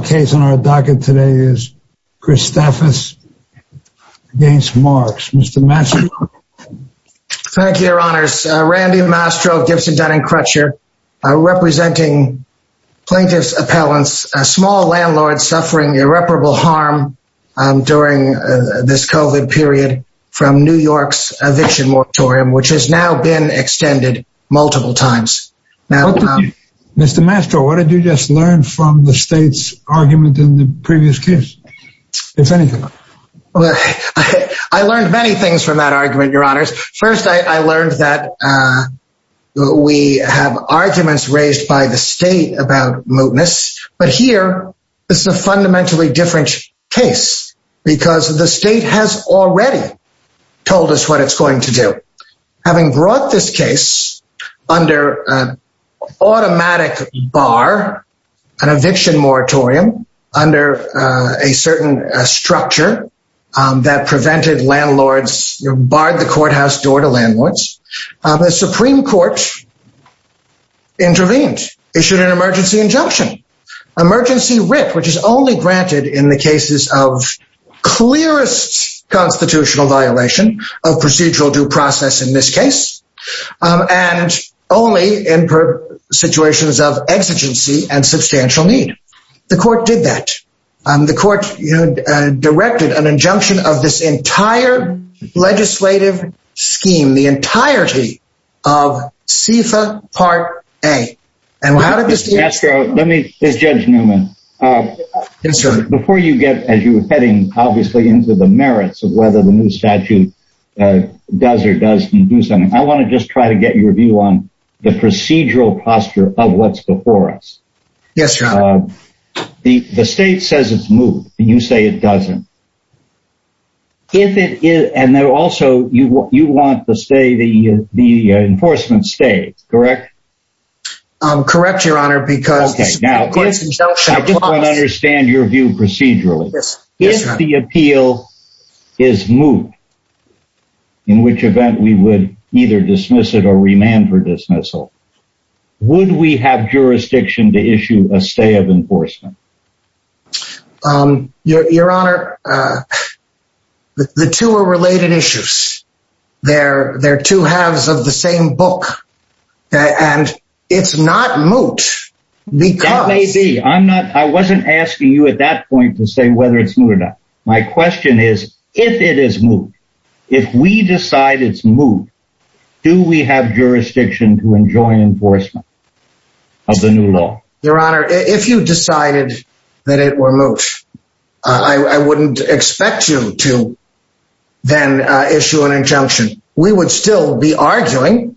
case on our docket today is Chrysafis against Marks. Mr. Mastro. Thank you, your honors. Randy Mastro Gibson Dunning Crutcher, representing plaintiff's appellants, a small landlord suffering irreparable harm during this COVID period from New York's eviction moratorium, which has now been extended multiple times. Mr. Mastro, what did you just learn from the state's argument in the previous case? I learned many things from that argument, your honors. First, I learned that we have arguments raised by the state about mootness. But here, it's a fundamentally different case, because the state has already told us what it's going to do. Having brought this case under automatic bar, an eviction moratorium under a certain structure that prevented landlords barred the courthouse door to landlords. The Supreme Court intervened issued an emergency injunction, emergency writ, which is only granted in the cases of clearest constitutional violation of procedural due process in this case, and only in situations of exigency and substantial need. The court did that. The court directed an injunction of this entire legislative scheme, the entirety of SIFA Part A. And how did this... Mr. Mastro, let me, Judge Newman. Yes, sir. Before you get, as you were heading, obviously, into the merits of whether the new statute does or doesn't do something, I want to just try to get your view on the procedural posture of what's before us. Yes, your honor. The state says it's moot, and you say it doesn't. If it is, and there also, you want the state, the enforcement state, correct? Correct, your honor, because... I just want to understand your view procedurally. If the appeal is moot, in which event we would either dismiss it or remand for dismissal, would we have jurisdiction to issue a stay of enforcement? Your honor, the two are related issues. They're two halves of the same book, and it's not moot, because... That may be. I wasn't asking you at that point to say whether it's moot or not. My question is, if it is moot, if we decide it's moot, do we have jurisdiction to enjoin enforcement of the new law? Your honor, if you decided that it were moot, I wouldn't expect you to then issue an injunction. We would still be arguing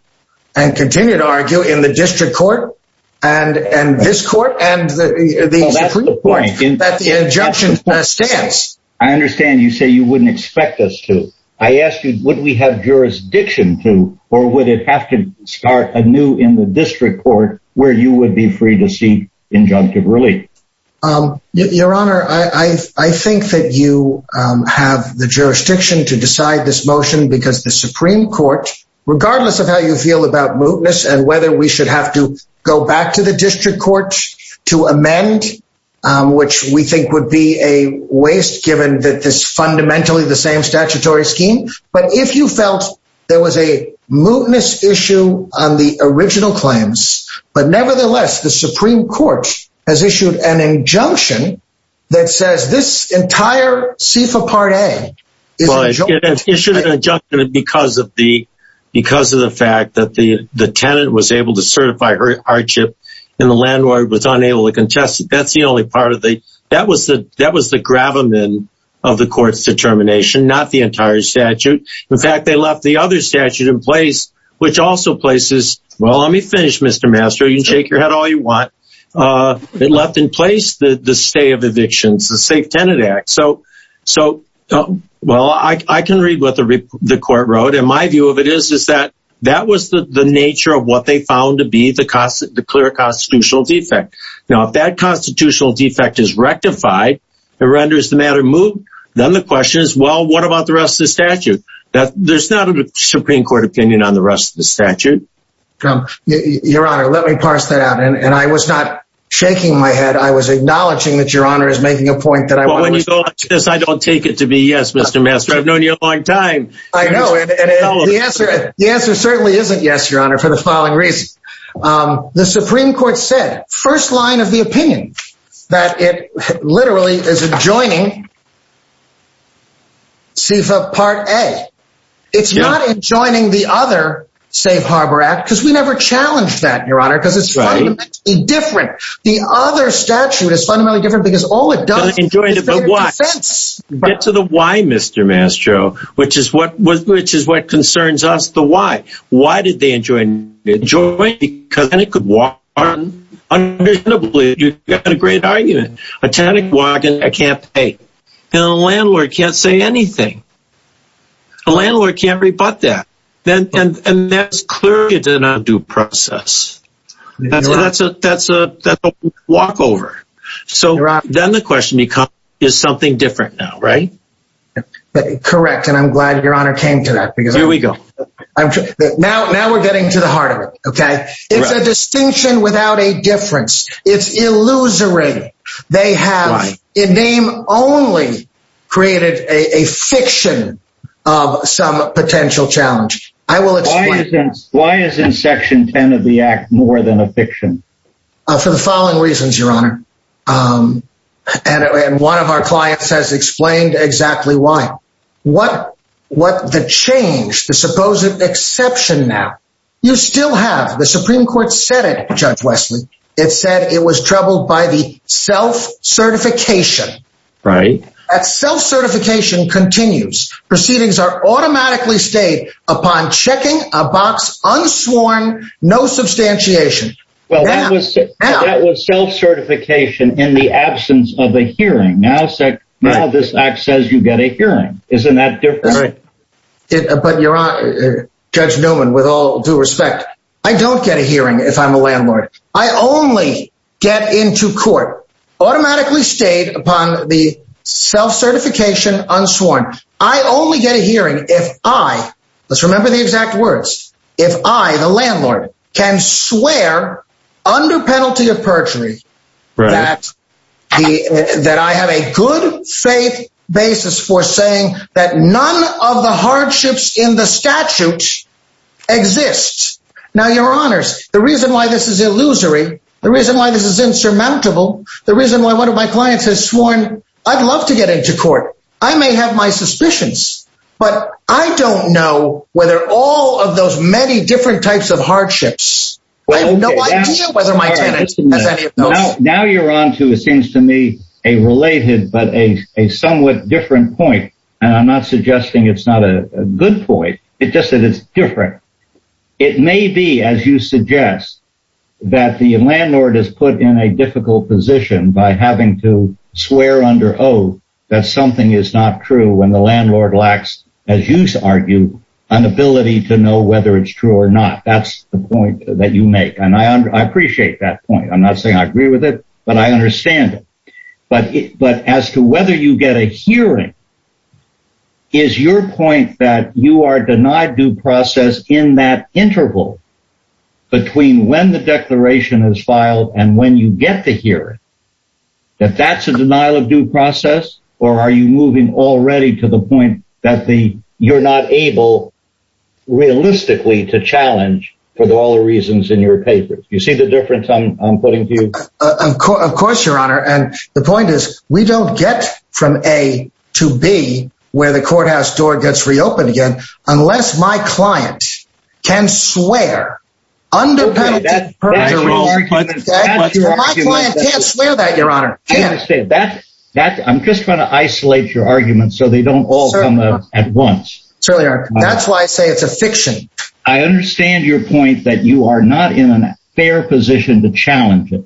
and continue to argue in the district court, and this court, and the Supreme Court, that the injunction stands. I understand you say you wouldn't expect us to. I asked you, would we have jurisdiction to, or would it have to start anew in the district court where you would be free to seek injunctive relief? Your honor, I think that you have the jurisdiction to decide this motion because the Supreme Court, regardless of how you feel about mootness and whether we should have to go back to the district court to amend, which we think would be a waste given that this fundamentally the same statutory scheme. But if you felt there was a mootness issue on the original claims, but nevertheless, the Supreme Court has issued an injunction that says this entire CIFA Part A. Issued an injunction because of the fact that the tenant was able to certify her hardship, and the landlord was unable to contest it. That's the only part of the... In fact, they left the other statute in place, which also places... Well, let me finish, Mr. Mastro. You can shake your head all you want. It left in place the stay of evictions, the Safe Tenant Act. So, well, I can read what the court wrote, and my view of it is that that was the nature of what they found to be the clear constitutional defect. Now, if that constitutional defect is rectified, it renders the matter moot, then the question is, well, what about the rest of the statute? There's not a Supreme Court opinion on the rest of the statute. Your Honor, let me parse that out. And I was not shaking my head. I was acknowledging that Your Honor is making a point that I... Well, when you go like this, I don't take it to be yes, Mr. Mastro. I've known you a long time. I know, and the answer certainly isn't yes, Your Honor, for the following reasons. The Supreme Court said, first line of the opinion, that it literally is adjoining the Safe Harbor Act, CFA Part A. It's not adjoining the other Safe Harbor Act, because we never challenged that, Your Honor, because it's fundamentally different. The other statute is fundamentally different, because all it does is make it a defense. Get to the why, Mr. Mastro, which is what concerns us, the why. Why did they adjoin it? Adjoin it because then it could walk on. Understandably, you've got a great argument. A tannic wagon, I can't pay. And a landlord can't say anything. A landlord can't rebut that. And that's clearly an undue process. That's a walkover. So then the question becomes, is something different now, right? Correct. And I'm glad Your Honor came to that, because... Here we go. Now we're getting to the heart of it, okay? It's a distinction without a difference. It's illusory. They have, in name only, created a fiction of some potential challenge. I will explain. Why isn't Section 10 of the Act more than a fiction? For the following reasons, Your Honor. And one of our clients has explained exactly why. What the change, the supposed exception now, you still have. The Supreme Court said it, Judge it was troubled by the self-certification. Right. That self-certification continues. Proceedings are automatically stayed upon checking a box unsworn, no substantiation. Well, that was self-certification in the absence of a hearing. Now, this Act says you get a hearing. Isn't that different? Right. But Your Honor, Judge Newman, with all due respect, I don't get a hearing if I'm a landlord. I only get into court, automatically stayed upon the self-certification unsworn. I only get a hearing if I, let's remember the exact words, if I, the landlord, can swear under penalty of perjury that I have a good faith basis for saying that none of the hardships in the reason why this is insurmountable, the reason why one of my clients has sworn, I'd love to get into court. I may have my suspicions, but I don't know whether all of those many different types of hardships, I have no idea whether my tenant has any of those. Now you're on to, it seems to me, a related but a somewhat different point. And I'm not suggesting it's not a good point. It's just that it's different. It may be, as you suggest, that the landlord is put in a difficult position by having to swear under oath that something is not true when the landlord lacks, as you argue, an ability to know whether it's true or not. That's the point that you make, and I appreciate that point. I'm not saying I agree with it, but I understand it. But as to whether you get a hearing is your point that you are denied due process in that interval between when the declaration is filed and when you get the hearing, that that's a denial of due process? Or are you moving already to the point that you're not able, realistically, to challenge for all the reasons in your papers? You see the difference I'm putting to you? Of course, Your Honor. And the point is, we don't get from A to B, where the courthouse door gets reopened again, unless my client can swear under penalty of perjury. My client can't swear that, Your Honor. I'm just trying to isolate your argument so they don't all come out at once. That's why I say it's a fiction. I understand your point that you are not in a fair position to challenge it.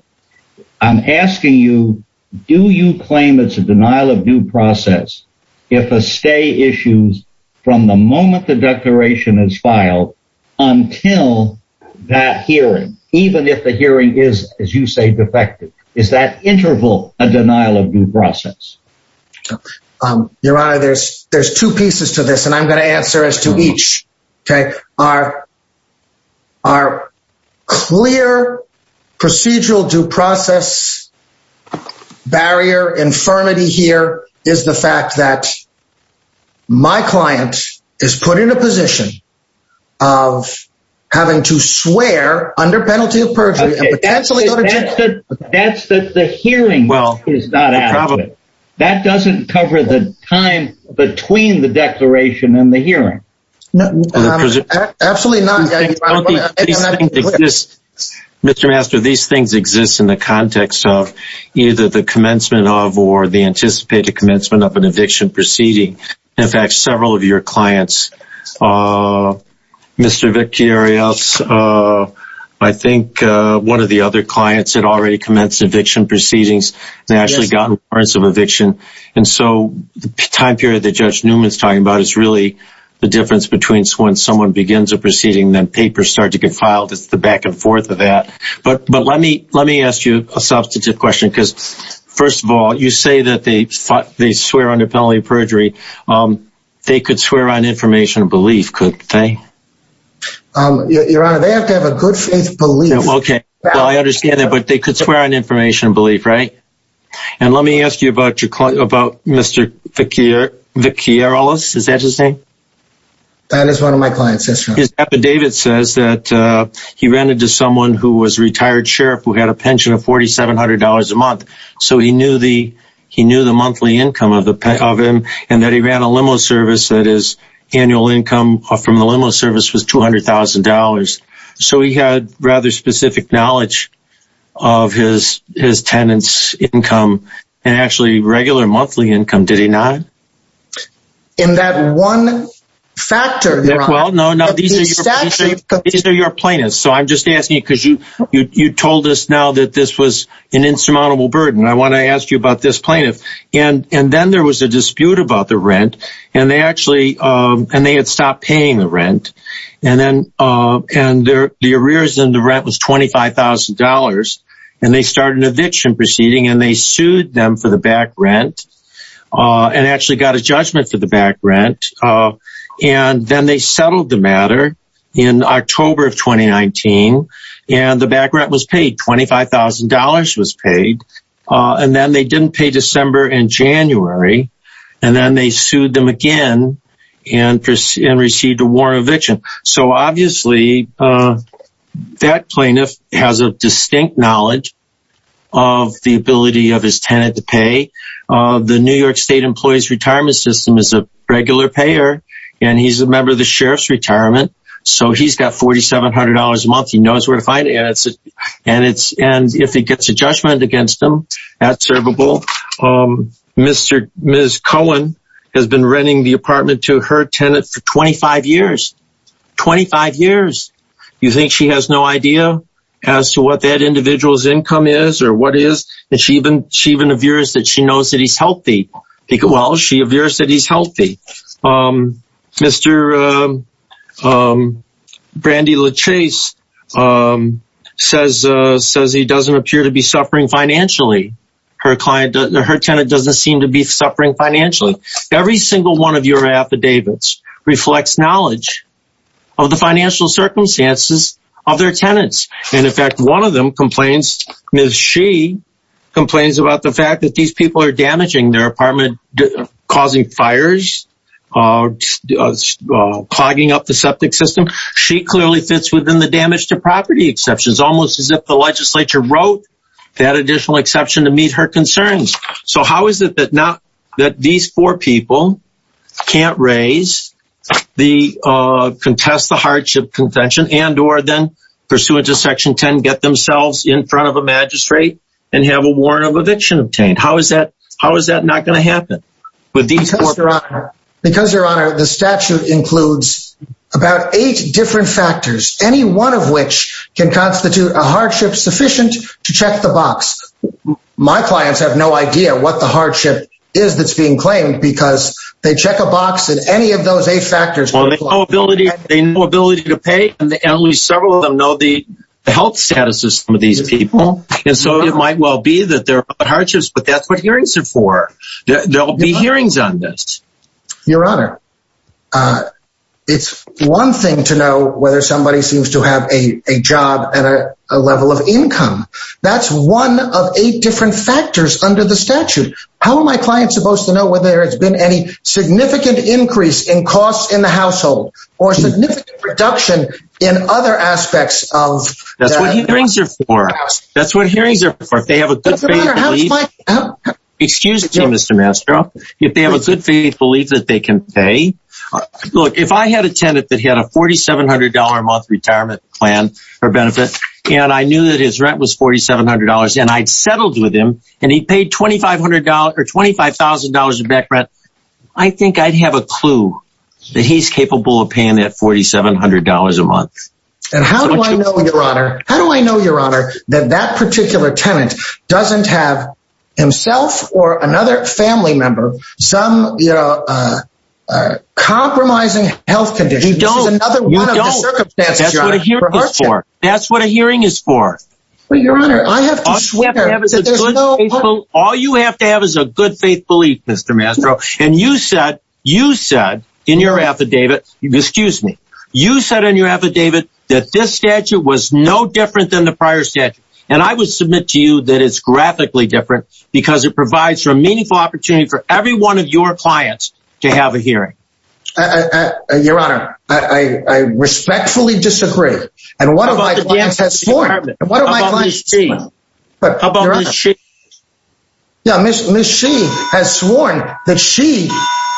I'm asking you, do you claim it's a denial of due process? If a stay issues from the moment the declaration is filed, until that hearing, even if the hearing is, as you say, defective, is that interval a denial of due process? Your Honor, there's there's two pieces to this. And I'm going to answer as to each. Okay, our, our clear procedural due process barrier infirmity here is the fact that my client is put in a position of having to swear under penalty of perjury. That's that the hearing is not adequate. That doesn't cover the time between the trial. Mr. Master, these things exist in the context of either the commencement of or the anticipated commencement of an eviction proceeding. In fact, several of your clients, Mr. Vicky Arias, I think one of the other clients had already commenced eviction proceedings. They actually got a warrant of eviction. And so the time period that Judge Newman's talking about is really the difference between when someone begins a proceeding, then papers start to get filed. It's the back and forth of that. But but let me let me ask you a substantive question. Because first of all, you say that they thought they swear under penalty of perjury. They could swear on information of belief, could they? Your Honor, they have to have a good faith belief. Okay, I understand that. But they could swear on information belief, right? And let me ask you about your client about Mr. Vicky, Vicky Arias. Is that his name? That is one of my clients. His dad, David says that he rented to someone who was a retired sheriff who had a pension of $4,700 a month. So he knew the he knew the monthly income of the of him, and that he ran a limo service that his annual income from the limo service was $200,000. So he had rather specific knowledge of his his tenants income, and actually regular monthly income. Did he not? In that one factor? Well, no, no, these are your plaintiffs. So I'm just asking you because you you told us now that this was an insurmountable burden. I want to ask you about this plaintiff. And and then there was a dispute about the rent. And they actually and and the arrears in the rent was $25,000. And they started an eviction proceeding and they sued them for the back rent and actually got a judgment for the back rent. And then they settled the matter in October of 2019. And the back rent was paid $25,000 was paid. And then they didn't pay December and January. And then they sued them again, and proceed and received a warrant eviction. So obviously, that plaintiff has a distinct knowledge of the ability of his tenant to pay. The New York State Employees Retirement System is a regular payer. And he's a member of the sheriff's retirement. So he's got $4,700 a month, he knows where to find it. And it's and it's and if he gets a judgment against them, that's servable. Mr. Ms. Cohen has been renting the apartment to her tenant for 25 years. 25 years. You think she has no idea as to what that individual's income is, or what is that she even she even appears that she knows that he's healthy. Well, she appears that he's healthy. Mr. Brandy LaChase says, says he doesn't appear to be suffering financially. Her client, her tenant doesn't seem to be suffering financially. Every single one of your affidavits reflects knowledge of the financial circumstances of their tenants. And in fact, one of them complains, Ms. She complains about the fact that these people are damaging their apartment, causing fires, clogging up the septic system. She clearly fits within the damage to property exceptions, almost as if the legislature wrote that additional exception to meet her concerns. So how is it that not that these four people can't raise the contest, the hardship contention and or then pursuant to Section 10, get themselves in front of magistrate and have a warrant of eviction obtained? How is that? How is that not going to happen? With these? Because Your Honor, the statute includes about eight different factors, any one of which can constitute a hardship sufficient to check the box. My clients have no idea what the hardship is that's being claimed because they check a box and any of those eight factors on the ability, the ability to pay and the only several of them know the health status of some of these people. And so it might well be that there are hardships, but that's what hearings are for. There'll be hearings on this, Your Honor. It's one thing to know whether somebody seems to have a job and a level of income. That's one of eight different factors under the statute. How am I client supposed to know whether it's been any significant increase in costs in the That's what hearings are for. If they have a good faith, excuse me, Mr. Mastro, if they have a good faith belief that they can pay. Look, if I had a tenant that had a $4,700 a month retirement plan, or benefit, and I knew that his rent was $4,700, and I'd settled with him, and he paid $2,500 or $25,000 in back rent, I think I'd have a clue that he's capable of paying that $4,700 a month. And how do I know, Your Honor, how do I know, Your Honor, that that particular tenant doesn't have himself or another family member, some, you know, compromising health condition? You don't. That's what a hearing is for. All you have to have is a good faith belief, Mr. Mastro. And you said, you said in your affidavit, excuse me, you said in your affidavit, that this statute was no different than the prior statute. And I would submit to you that it's graphically different, because it provides for a meaningful opportunity for every one of your clients to have a hearing. Your Honor, I respectfully disagree. And one of my clients has sworn. How about Ms. Shee? Yeah, Ms. Shee has sworn that she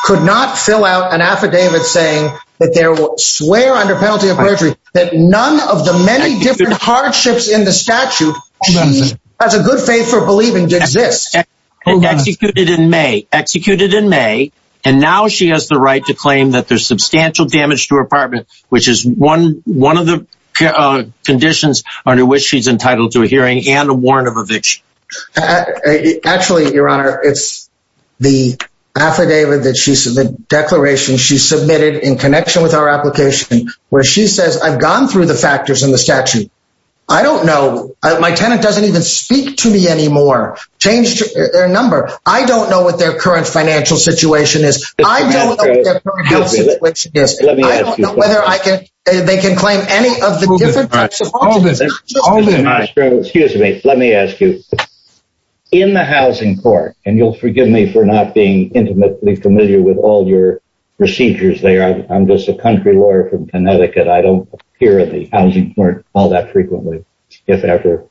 could not fill out an affidavit saying that there were swear under penalty of perjury, that none of the many different hardships in the statute, she has a good faith for believing exists. Executed in May, executed in May. And now she has the right to claim that there's substantial damage to her apartment, which is one of the conditions under which she's entitled to a warrant of eviction. Actually, Your Honor, it's the affidavit that she said the declaration she submitted in connection with our application, where she says I've gone through the factors in the statute. I don't know. My tenant doesn't even speak to me anymore. Change their number. I don't know what their current financial situation is. I don't know whether I can, they can claim any of the different types of all this. Excuse me, let me ask you. In the housing court, and you'll forgive me for not being intimately familiar with all your procedures there. I'm just a country lawyer from Connecticut. I don't hear of the housing court all that frequently, if ever.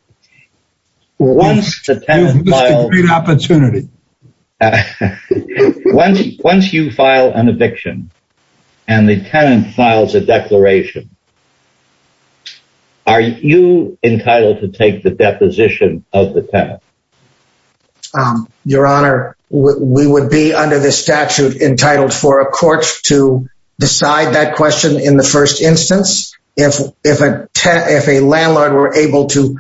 Once the tenant You missed a great opportunity. Once, once you file an eviction, and the tenant files a declaration, are you entitled to take the deposition of the tenant? Your Honor, we would be under the statute entitled for a court to decide that question in the first instance, if, if, if a landlord were able to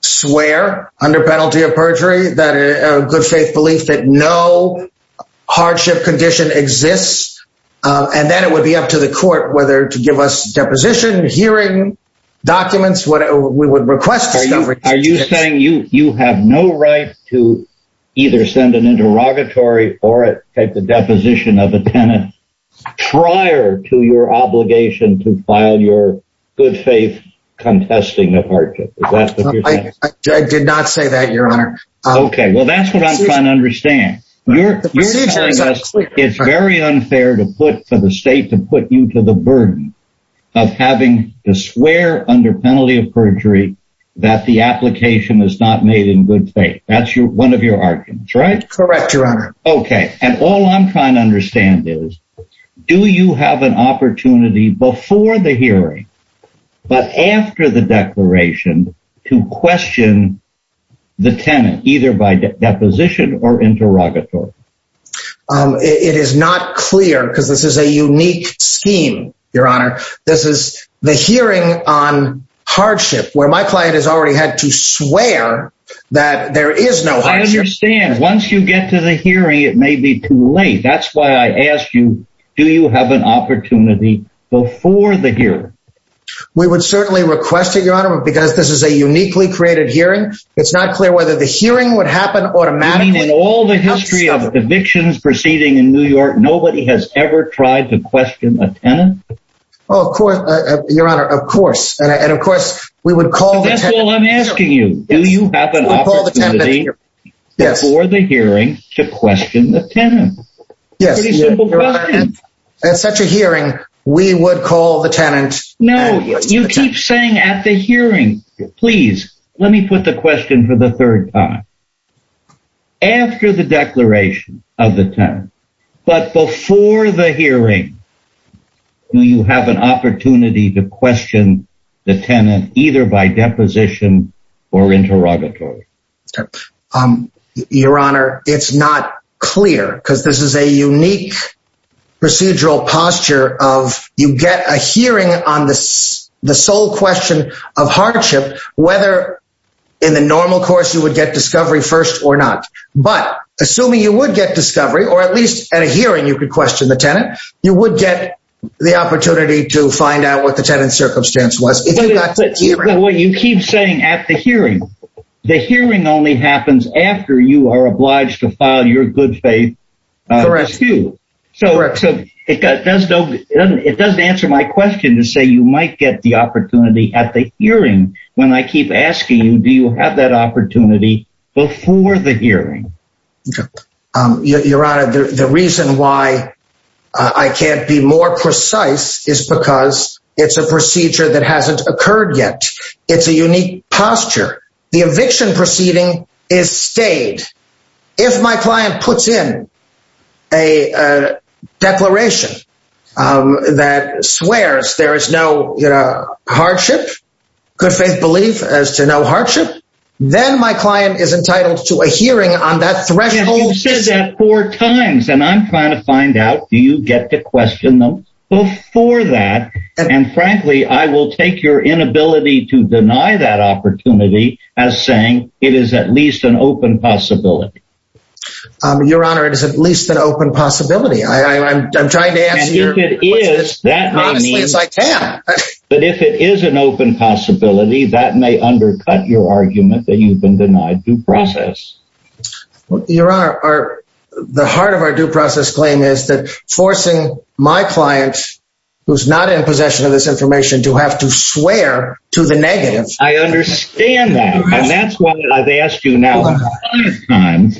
swear under penalty of perjury that a good faith belief that no hardship condition exists. And then it would be up to the court whether to give us deposition hearing documents, whatever we would request. Are you saying you, you have no right to either send an interrogatory or take the deposition of a tenant prior to your obligation to file your good faith contesting of hardship? I did not say that, Your Honor. Okay, well, that's what I'm trying to understand. It's very unfair to put for the state to put you to the burden of having to swear under penalty of perjury, that the application is not made in good faith. That's your one of your arguments, right? Correct, Your Honor. Okay. And all I'm trying to understand is, do you have an opportunity before the hearing, but after the declaration to question the tenant either by deposition or interrogatory? It is not clear because this is a unique scheme, Your Honor. This is the hearing on hardship, where my client has already had to swear that there is no hardship. I understand. Once you get to the hearing, it may be too late. That's why I asked you, do you have an opportunity before the hearing? We would certainly request it, Your Honor, because this is a uniquely created hearing. It's not clear whether the hearing would happen automatically. In all the history of evictions proceeding in New York, nobody has ever tried to question a tenant. Oh, of course, Your Honor, of course. And of course, we would call the... That's all I'm asking you. Do you have an opportunity before the hearing to question the tenant? Yes. At such a hearing, we would call the tenant. No, you keep saying at the hearing. Please, let me put the question for the third time. After the declaration of the tenant, but before the hearing, do you have an opportunity to question the tenant either by deposition or interrogatory? Um, Your Honor, it's not clear because this is a unique procedural posture of you get a hearing on this, the sole question of hardship, whether in the normal course, you would get discovery first or not. But assuming you would get discovery, or at least at a hearing, you could question the tenant, you would get the opportunity to find out what the tenant circumstance was. What you keep saying at the hearing, the hearing only happens after you are obliged to file your good faith. So it doesn't answer my question to say you might get the opportunity at the hearing. When I keep asking you, do you have that opportunity before the hearing? Your Honor, the reason why I can't be more precise is because it's a procedure that hasn't occurred yet. It's a unique posture. The eviction proceeding is stayed. If my client puts in a declaration that swears there is no hardship, good faith belief as to no hardship, then my client is entitled to a hearing on that threshold four times and I'm trying to find out do you get to question them before that. And frankly, I will take your inability to deny that opportunity as saying it is at least an open possibility. Your Honor, it is at least an open possibility. I'm trying to answer your question honestly as I can. But if it is an open possibility, that may undercut your argument that you've been denied due process. Your Honor, the heart of our due process claim is that forcing my client who's not in possession of this information to have to swear to the negative. I understand that. And that's why I've asked you now a hundred times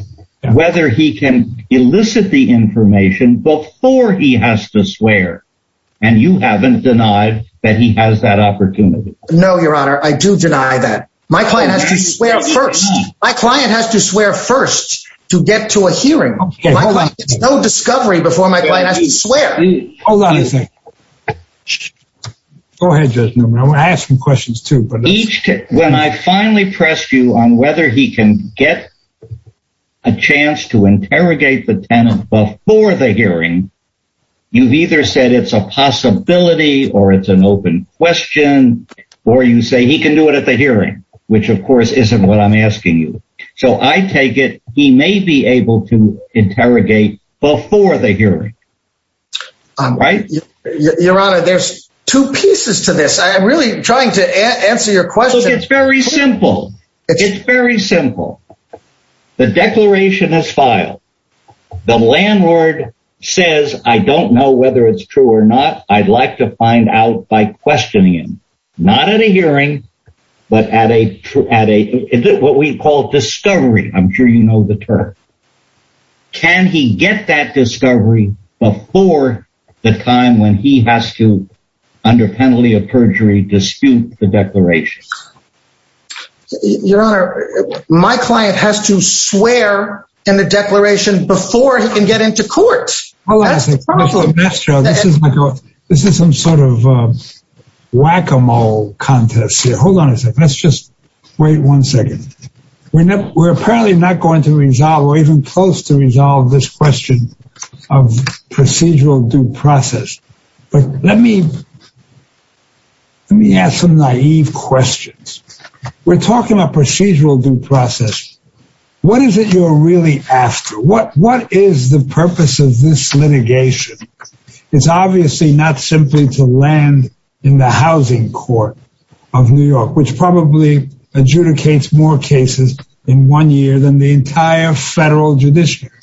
whether he can elicit the information before he has to swear. And you haven't denied that he has that opportunity. No, Your Honor, I do deny that. My client has to swear first. My client has to swear first to get to a hearing. No discovery before my client has to swear. Hold on a second. Go ahead, Judge Newman. I want to ask some questions too. When I finally pressed you on whether he can get a chance to interrogate the tenant before the hearing, you've either said it's a possibility or it's an open question. Or you say he can do it at the hearing, which of course isn't what I'm asking you. So I take it he may be able to interrogate before the hearing. Your Honor, there's two pieces to this. I'm really trying to answer your question. It's very simple. It's very simple. The declaration has filed. The landlord says, I don't know whether it's true or not. I'd like to find out by questioning him, not at a hearing, but at a, at a, what we call discovery. I'm sure you know the term. Can he get that discovery before the time when he has to, under penalty of perjury, dispute the declaration? Your Honor, my client has to swear in the declaration before he can enter court. This is some sort of whack-a-mole contest here. Hold on a second. Let's just wait one second. We're apparently not going to resolve or even close to resolve this question of procedural due process. But let me, let me ask some naive questions. We're talking about this litigation. It's obviously not simply to land in the housing court of New York, which probably adjudicates more cases in one year than the entire federal judiciary.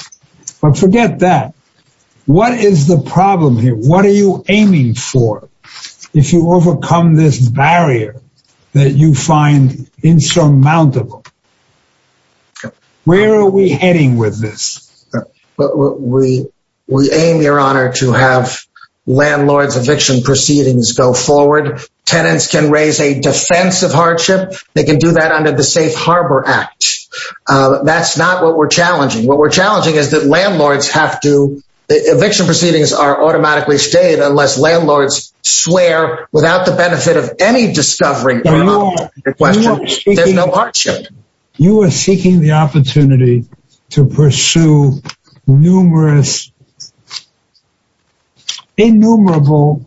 But forget that. What is the problem here? What are you aiming for if you overcome this barrier that you find insurmountable? Where are we heading with this? But we, we aim, Your Honor, to have landlords eviction proceedings go forward. Tenants can raise a defense of hardship. They can do that under the Safe Harbor Act. That's not what we're challenging. What we're challenging is that landlords have to, eviction proceedings are going forward. There's no hardship. You are seeking the opportunity to pursue numerous, innumerable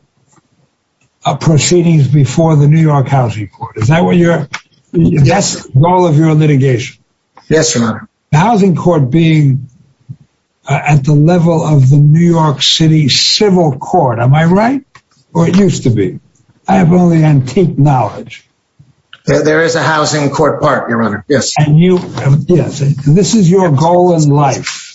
proceedings before the New York Housing Court. Is that what you're, that's the goal of your litigation? Yes, Your Honor. The housing court being at the level of the New York City Civil Court, am I right? Or it used to be? I have only knowledge. There is a housing court part, Your Honor. Yes. And you, yes, this is your goal in life.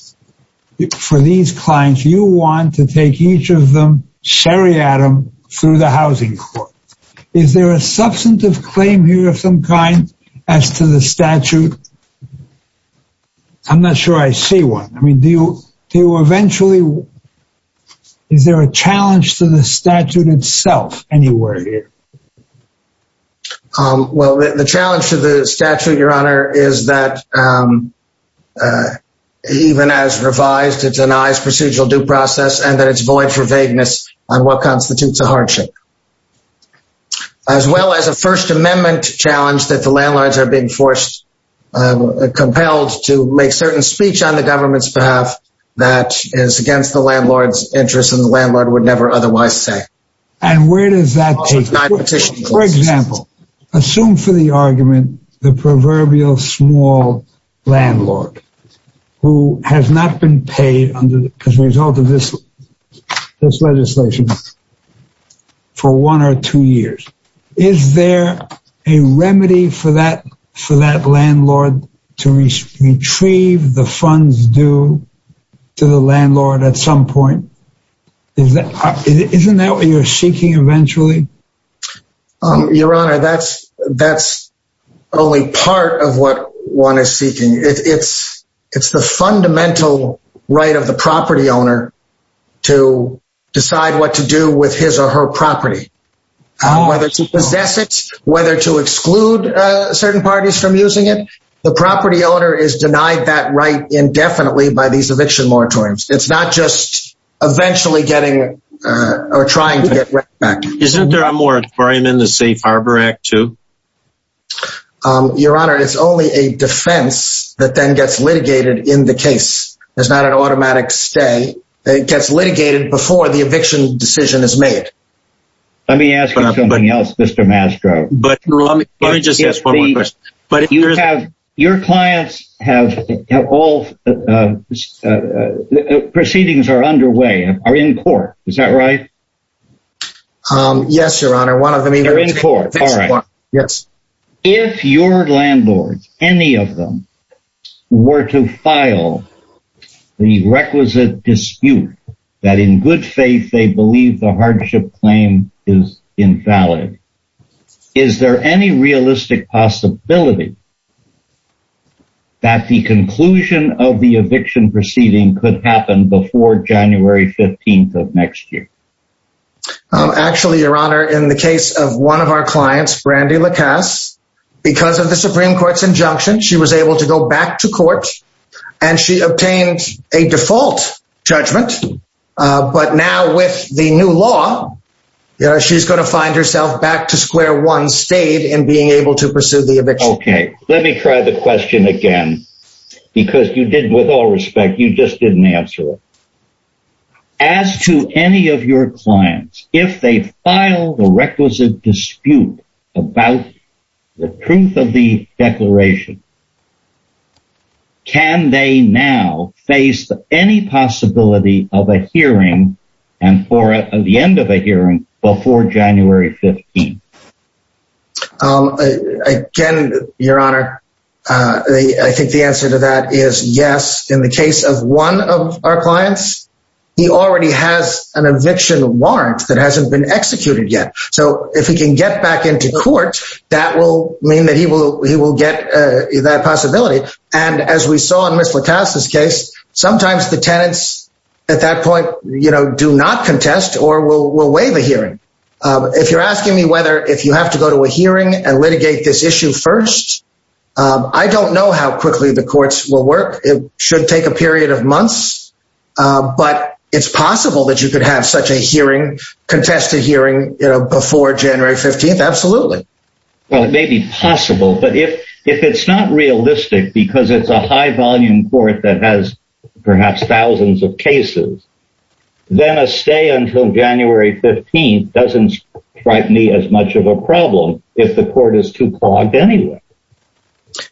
For these clients, you want to take each of them, sherry Adam through the housing court. Is there a substantive claim here of some kind as to the statute? I'm not sure I see one. I mean, do you do eventually? Is there a challenge to the statute? Well, the challenge to the statute, Your Honor, is that even as revised, it's a nice procedural due process, and that it's void for vagueness on what constitutes a hardship. As well as a First Amendment challenge that the landlords are being forced, compelled to make certain speech on the government's behalf, that is against the For example, assume for the argument, the proverbial small landlord who has not been paid under as a result of this, this legislation for one or two years. Is there a remedy for that, for that landlord to retrieve the funds due to the landlord at some point? Is that isn't that what you're seeking eventually? Your Honor, that's, that's only part of what one is seeking. It's, it's the fundamental right of the property owner to decide what to do with his or her property, whether to possess it, whether to exclude certain parties from using it. The property owner is eventually getting or trying to get back. Isn't there a more for him in the Safe Harbor Act to Your Honor, it's only a defense that then gets litigated in the case. It's not an automatic stay. It gets litigated before the eviction decision is made. Let me ask you something else, Mr. Mastro. But let me just ask one more question. But you have your clients have all proceedings are underway and are in court. Is that right? Yes, Your Honor, one of them are in court. Yes. If your landlord, any of them were to file the requisite dispute, that in good faith, they believe the hardship claim is invalid. Is there any realistic possibility that the conclusion of the eviction proceeding could happen before January 15 of next year? Actually, Your Honor, in the case of one of our clients, Brandi LaCasse, because of the Supreme Court's injunction, she was able to go back to court. And she obtained a default judgment. But now with the new law, she's going to find herself back to square one state and being able to pursue the eviction. Okay, let me try the question again. Because you did with all respect, you just didn't answer it. As to any of your clients, if they file the requisite dispute about the truth of the declaration, can they now face any possibility of a hearing and for the end of a hearing before January 15? Again, Your Honor, I think the answer to that is yes. In the case of one of our clients, he already has an eviction warrant that hasn't been executed yet. So if we can get back into court, that will mean that he will get that possibility. And as we saw in Ms. LaCasse's case, sometimes the tenants at that point, you know, do not contest or will waive a hearing. If you're asking me whether if you have to go to a hearing and litigate this issue first, I don't know how quickly the courts will work. It should take a period of months. But it's possible that you could have such a hearing, contested hearing before January 15. Absolutely. Well, it may be possible. But if it's not realistic, because it's a high volume court that has perhaps thousands of cases, then a stay until January 15 doesn't frighten me as much of a problem if the court is too clogged anyway.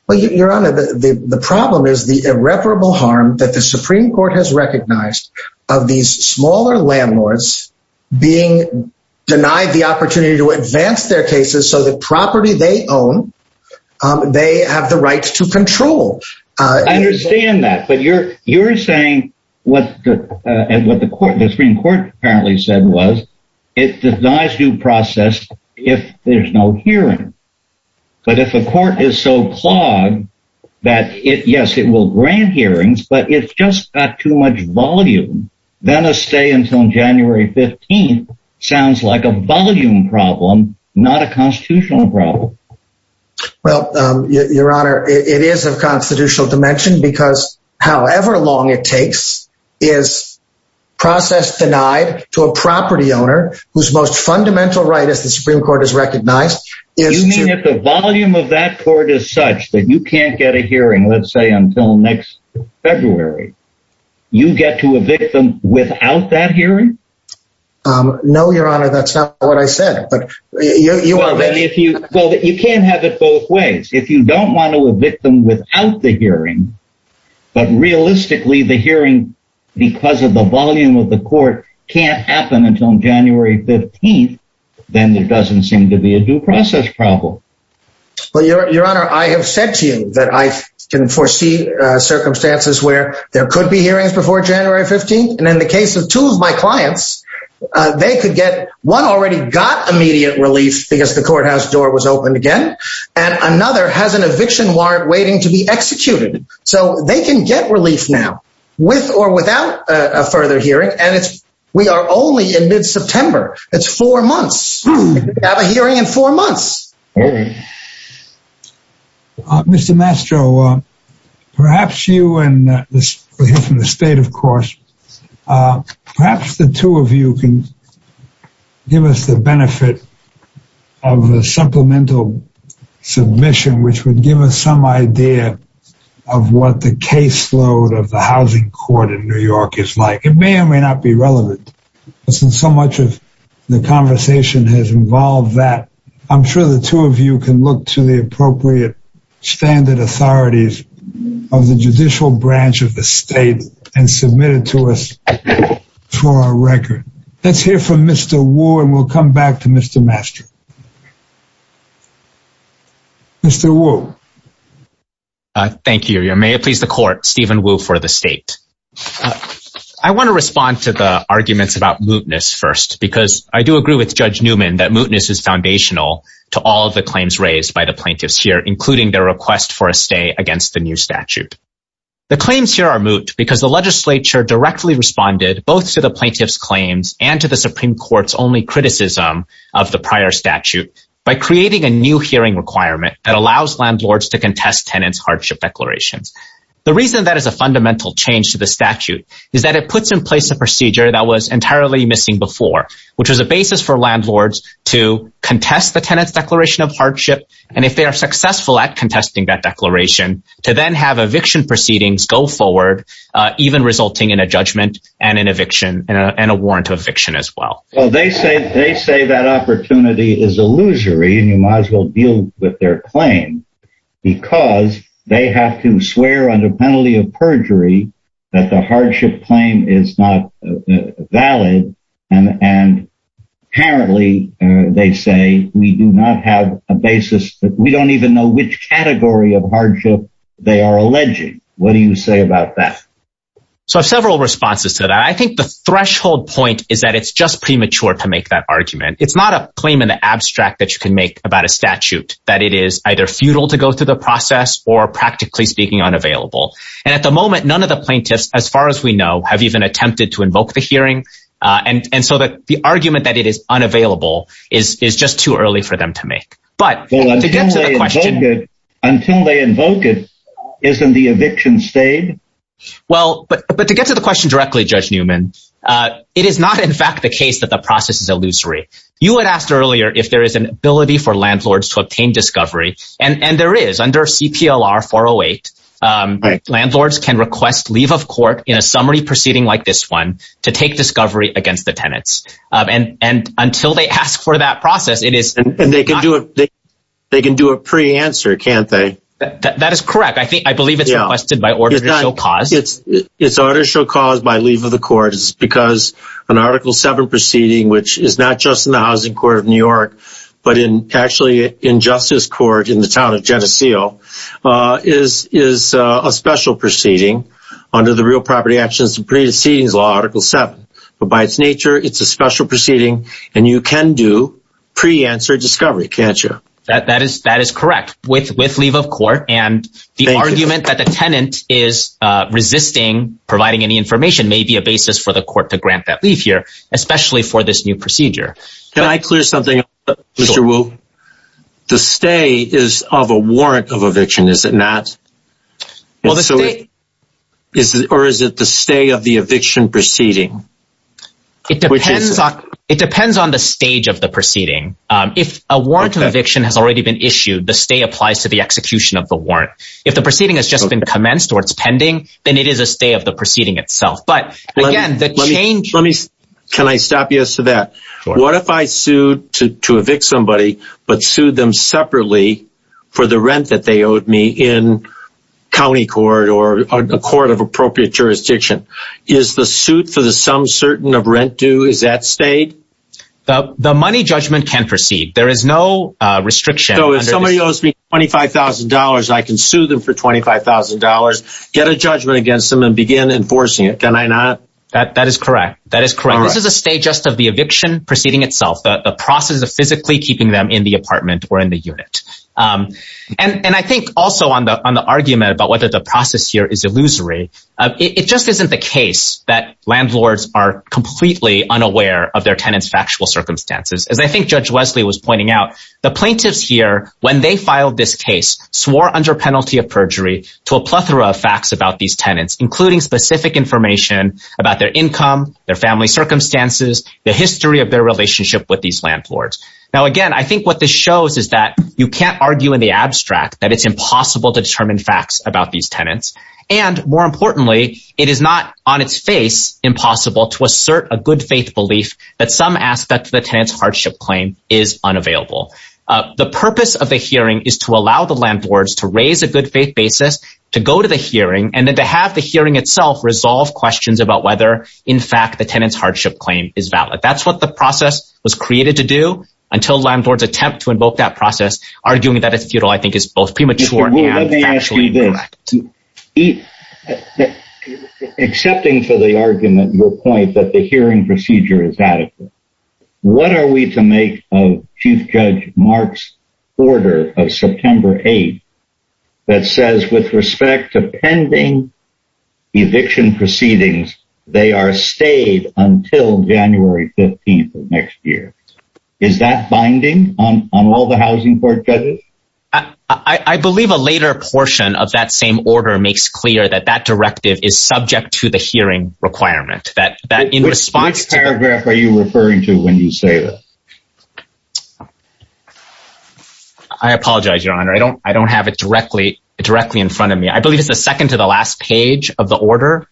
Well, Your Honor, the problem is the irreparable harm that the Supreme Court has recognized of these smaller landlords being denied the opportunity to advance their cases so the property they own, they have the right to control. I understand that. But you're saying what the Supreme Court apparently said was, it denies due process if there's no hearing. But if a court is so clogged, that it yes, it will grant hearings, but it's just got too much volume, then a stay until January 15. Sounds like a volume problem, not a constitutional problem. Well, Your Honor, it is a constitutional dimension, because however long it takes, is process denied to a property owner whose most fundamental right is the Supreme Court is recognized. You mean if the volume of that court is such that you can't get a hearing, let's say until next February, you get to evict them without that hearing? No, Your Honor, that's not what I said. But you are then if you well, you can't have it both ways, if you don't want to evict them without the hearing. But realistically, the hearing, because of the volume of the court can't happen until January 15. Then there doesn't seem to be a due process problem. Well, Your Honor, I have said to you that I can foresee circumstances where there could be hearings before January 15. And in the case of two of my clients, they could get one already got immediate relief because the courthouse door was opened again. And another has an eviction warrant waiting to be executed. So they can get relief now, with or without a further hearing. We are only in mid-September. It's four months. We have a hearing in four months. Mr. Mastro, perhaps you and this from the state, of course, perhaps the two of you can give us the benefit of a supplemental submission, which would give us some idea of what the caseload of the housing court in New York is like. It may or may not be relevant. So much of the conversation has involved that. I'm sure the two of you can look to the appropriate standard authorities of the judicial branch of the state and submit it to us for our record. Let's hear from Mr. Wu and we'll come back to Mr. Mastro. Mr. Wu. Thank you. May it please the court, Stephen Wu for the state. I want to respond to the arguments about mootness first, because I do agree with Judge Newman that mootness is foundational to all of the claims raised by the plaintiffs here, including their request for a stay against the new statute. The claims here are moot because the legislature directly responded both to the plaintiff's claims and to the Supreme Court's only criticism of the prior statute by creating a new hearing requirement that allows landlords to contest tenants' hardship declarations. The reason that is a fundamental change to the statute is that it puts in place a procedure that was entirely missing before, which was a basis for landlords to contest the tenant's declaration of hardship. And if they are successful at contesting that declaration to then have eviction proceedings go forward, even resulting in a judgment and an They say that opportunity is illusory, and you might as well deal with their claim, because they have to swear under penalty of perjury that the hardship claim is not valid. And apparently, they say we do not have a basis. We don't even know which category of hardship they are alleging. What do you say about that? So I have several responses to that. I think the threshold point is that it's just premature. It's not a claim in the abstract that you can make about a statute that it is either futile to go through the process or, practically speaking, unavailable. And at the moment, none of the plaintiffs, as far as we know, have even attempted to invoke the hearing. And so the argument that it is unavailable is just too early for them to make. But until they invoke it, isn't the eviction stayed? Well, but to get to the question directly, Judge Newman, it is not, in fact, the case that the process is illusory. You had asked earlier if there is an ability for landlords to obtain discovery. And there is. Under CPLR 408, landlords can request leave of court in a summary proceeding like this one to take discovery against the tenants. And until they ask for that process, it is And they can do it. They can do a pre-answer, can't they? That is correct. I think I believe it's requested by order to show cause. It's order to show cause by leave of the court is because an Article 7 proceeding, which is not just in the Housing Court of New York, but in actually in Justice Court in the town of Geneseo, is a special proceeding under the Real Property Actions and Precedings Law, Article 7. But by its nature, it's a special proceeding and you can do pre-answer discovery, can't you? That is correct. With leave of court and the argument that the tenant is resisting providing any information may be a basis for the court to grant that leave here, especially for this new procedure. Can I clear something up, Mr. Wu? The stay is of a warrant of eviction, is it not? Or is it the stay of the eviction proceeding? It depends on the stage of the proceeding. If a warrant of eviction has already been issued, the stay applies to the execution of the warrant. If the proceeding has just been commenced or it's pending, then it is a stay of the proceeding itself. Can I stop you as to that? What if I sued to evict somebody but sued them separately for the rent that they owed me in county court or a court of appropriate jurisdiction? Is the suit for the sum certain of rent due? Is that stayed? The money judgment can proceed. There is no restriction. So if somebody owes me $25,000, I can sue them for $25,000, get a judgment against them and begin enforcing it, can I not? That is correct. That is correct. This is a stay just of the eviction proceeding itself, the process of physically keeping them in the apartment or in the unit. And I think also on the argument about whether the process here is their tenants' factual circumstances. As I think Judge Wesley was pointing out, the plaintiffs here, when they filed this case, swore under penalty of perjury to a plethora of facts about these tenants, including specific information about their income, their family circumstances, the history of their relationship with these landlords. Now, again, I think what this shows is that you can't argue in the abstract that it's impossible to determine facts about these tenants. And more importantly, it is not on its face impossible to assert a good faith belief that some aspect of the tenants' hardship claim is unavailable. The purpose of the hearing is to allow the landlords to raise a good faith basis, to go to the hearing, and then to have the hearing itself resolve questions about whether, in fact, the tenants' hardship claim is valid. That's what the process was created to do until landlords attempt to invoke that process, arguing that a feudal, I think, is both premature and factually correct. Accepting for the argument your point that the hearing procedure is adequate, what are we to make of Chief Judge Mark's order of September 8th that says, with respect to pending eviction proceedings, they are stayed until January 15th of next year? Is that binding on all the housing court judges? I believe a later portion of that same order makes clear that that directive is subject to the hearing requirement. Which paragraph are you referring to when you say this? I apologize, Your Honor. I don't have it directly in front of me. I believe it's the second to the last page of the order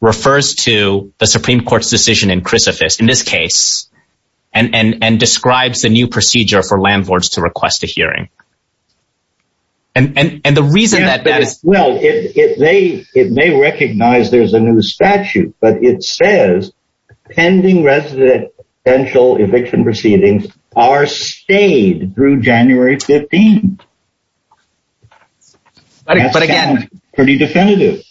refers to the Supreme Court's decision in this case, and describes the new procedure for landlords to request a hearing. And the reason that that is... Well, it may recognize there's a new statute, but it says pending residential eviction proceedings are stayed through January 15th. But again... That sounds pretty definitive.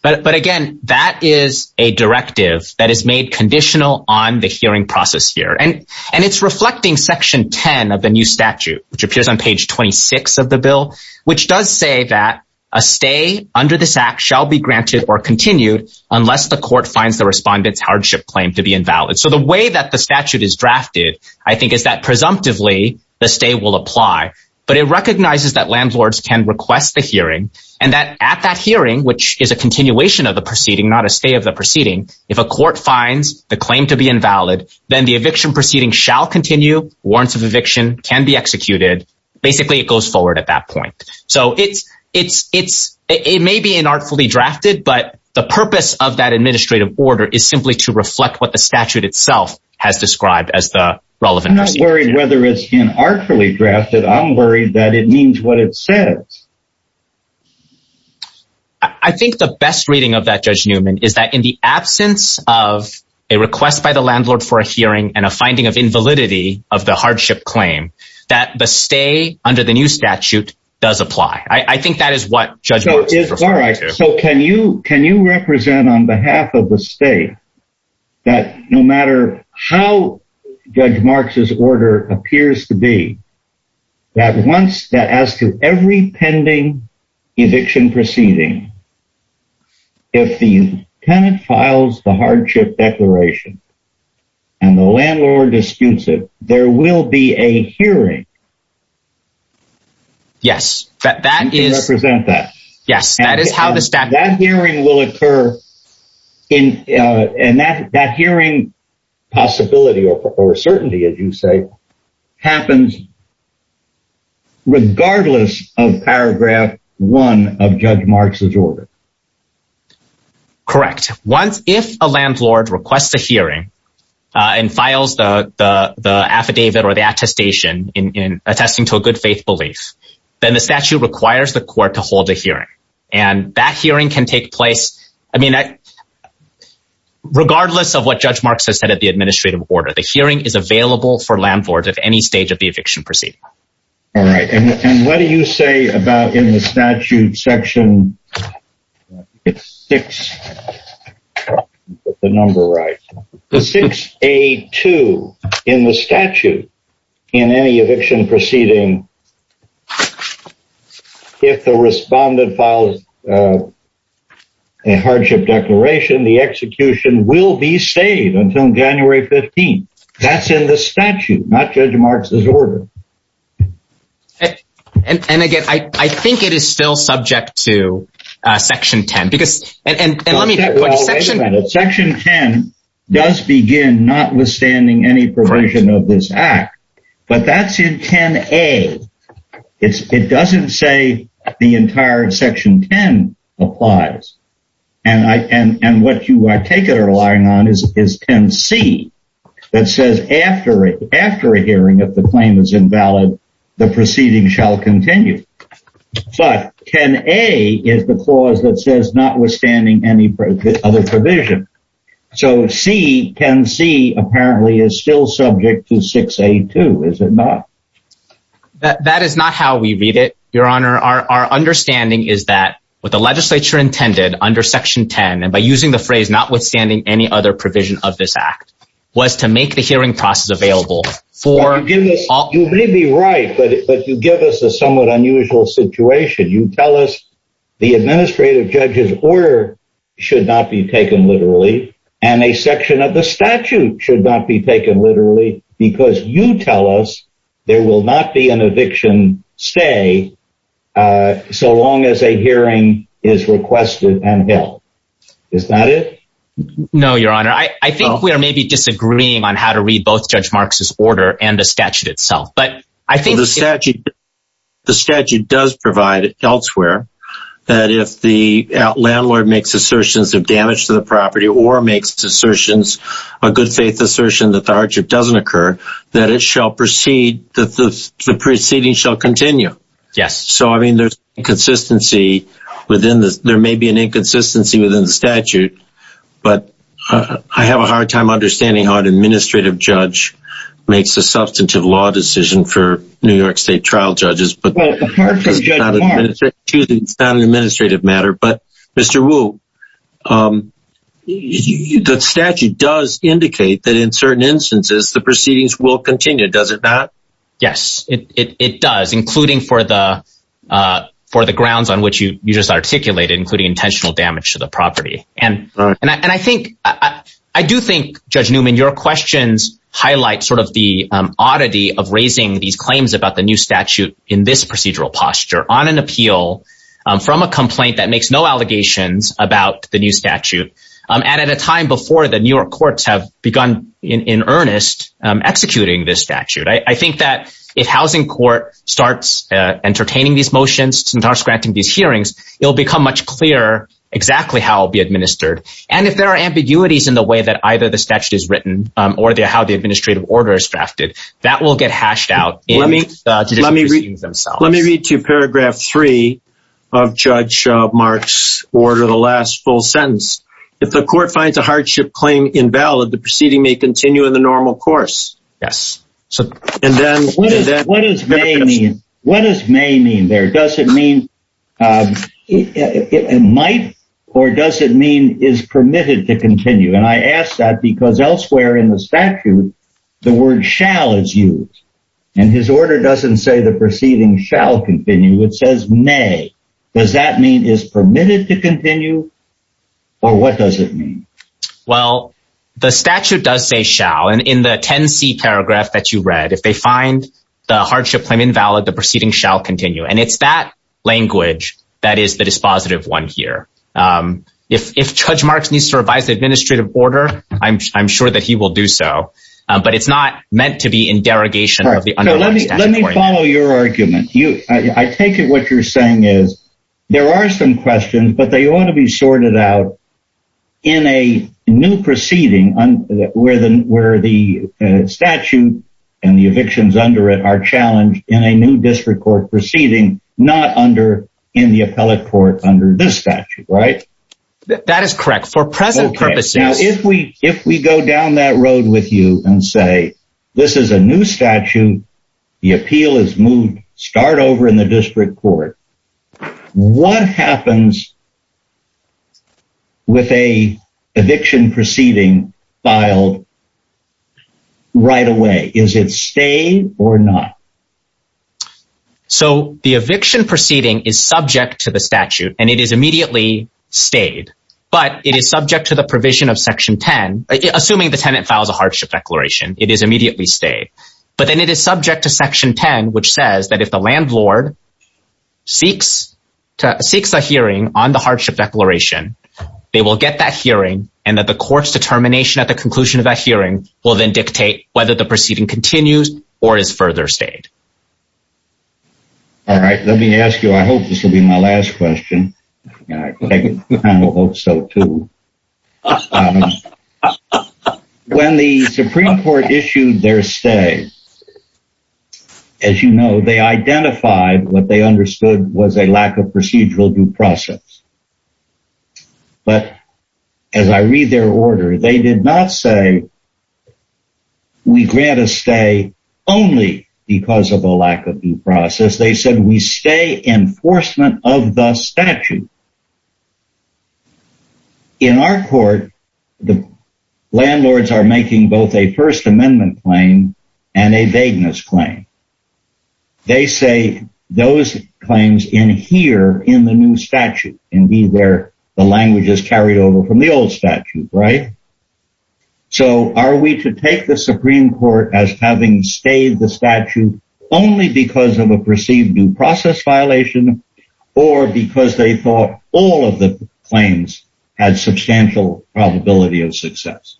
But again, that is a directive that is made conditional on the hearing process here. And it's reflecting Section 10 of the new statute, which appears on page 26 of the bill, which does say that a stay under this act shall be granted or continued unless the court finds the respondent's hardship claim to be invalid. So the way that the statute is drafted, I think, is that presumptively the stay will apply. But it recognizes that landlords can request the hearing, and that at that hearing, which is a continuation of the proceeding, if a court finds the claim to be invalid, then the eviction proceeding shall continue. Warrants of eviction can be executed. Basically, it goes forward at that point. So it's... It may be inartfully drafted, but the purpose of that administrative order is simply to reflect what the statute itself has described as the relevant... I'm not worried whether it's inartfully drafted. I'm worried that it means what it says. I think the best reading of that, is that in the absence of a request by the landlord for a hearing and a finding of invalidity of the hardship claim, that the stay under the new statute does apply. I think that is what Judge Marks is referring to. All right. So can you represent on behalf of the state that no matter how Judge Marks's order appears to be, that once... that as to every pending eviction proceeding, if the tenant files the hardship declaration and the landlord disputes it, there will be a hearing? Yes, that is... Can you represent that? Yes, that is how the statute... That hearing will occur in... and that hearing possibility, or certainty, as you say, happens regardless of paragraph one of Judge Marks's order? Correct. Once... if a landlord requests a hearing and files the affidavit or the attestation in attesting to a good faith belief, then the statute requires the court to hold a hearing. And that hearing can take place, I mean, regardless of what Judge Marks has said in the administrative order. The hearing is available for landlords at any stage of the eviction proceeding. All right. And what do you say about in the statute section... It's 6A2 in the statute, in any eviction proceeding, if the respondent files a hardship declaration, the execution will be stayed until January 15th. That's in the statute, not Judge Marks's order. And again, I think it is still subject to section 10, because... And let me... Well, wait a minute. Section 10 does begin, notwithstanding any provision of this act, but that's in 10A. It doesn't say the entire section 10 applies. And what you take it relying on is 10C, that says, after a hearing, if the claim is invalid, the proceeding shall continue. But 10A is the clause that says, notwithstanding any other provision. So 10C apparently is still subject to 6A2, is it not? That is not how we read it, Your Honor. Our understanding is that what the legislature intended under section 10, and by using the phrase, notwithstanding any other provision of this act, was to make the hearing process available for... You may be right, but you give us a somewhat unusual situation. You tell us the administrative judge's order should not be taken literally, and a section of the statute should not be taken literally, because you tell us there will not be an eviction stay, so long as a hearing is requested and held. Is that it? No, Your Honor. I think we are maybe disagreeing on how to read both Judge Marks's order and the statute itself, but I think... The statute does provide elsewhere that if the landlord makes assertions of damage to the property or makes assertions, a good faith assertion that the hardship doesn't occur, that it shall proceed, that the proceeding shall continue. Yes. So, I mean, there's inconsistency within this. There may be an inconsistency within the statute, but I have a hard time understanding how an administrative judge makes a substantive law decision for New York State trial judges, but it's not an administrative matter. But, Mr. Wu, the statute does indicate that in certain instances, the proceedings will continue, does it not? Yes, it does, including for the grounds on which you just articulated, including intentional damage to the property. And I do think, Judge Newman, your questions highlight sort of the oddity of raising these claims about the new statute in this procedural posture on an appeal from a complaint that makes no allegations about the new statute. And at a time before the New York courts have begun, in earnest, executing this statute, I think that if housing court starts entertaining these motions and starts granting these hearings, it'll become much clearer exactly how it'll be administered. And if there are ambiguities in the way that either the statute is written, or how the administrative order is drafted, that will get hashed out in the proceedings themselves. Let me read to you paragraph three of Judge Mark's order, the last full sentence. If the court finds a hardship claim invalid, the proceeding may continue in the normal course. Yes. What does may mean there? Does it mean it might, or does it mean is permitted to continue? And I asked that because elsewhere in the statute, the word shall is used. And his order doesn't say the proceeding shall continue. It says may. Does that mean is permitted to continue? Or what does it mean? Well, the statute does say shall. And in the 10c paragraph that you read, if they find the hardship claim invalid, the proceeding shall continue. And it's that language that is the positive one here. If Judge Mark's needs to revise the administrative order, I'm sure that he will do so. But it's not meant to be in derogation of the underlying statute. Let me follow your argument. I take it what you're saying is, there are some questions, but they ought to be sorted out in a new proceeding where the statute and the evictions under it are challenged in a new district court proceeding, not under in the appellate court under this statute, right? That is correct. For present purposes, if we if we go down that road with you and say, this is a new statute, the appeal is moved, start over in the district court. What happens with a eviction proceeding filed right away? Is it staying or not? So the eviction proceeding is subject to the statute and it is immediately stayed. But it is subject to the provision of section 10. Assuming the tenant files a hardship declaration, it is immediately stayed. But then it is subject to section 10, which says that if the landlord seeks a hearing on the hardship declaration, they will get that hearing and that the court's determination at the conclusion of that hearing will then dictate whether the proceeding continues or is further stayed. All right, let me ask you, I hope this will be my last question. I hope so too. When the Supreme Court issued their stay, as you know, they identified what they understood was a lack of procedural due process. But as I read their order, they did not say, we grant a stay only because of a lack of due process. They said we stay enforcement of the statute. In our court, the landlords are making both a First Amendment claim and a vagueness claim. They say those claims in here in the new statute and be where the language is carried over from the old statute, right? So are we to take the Supreme Court as having stayed the statute only because of a perceived due process violation or because they thought all of the claims had substantial probability of success?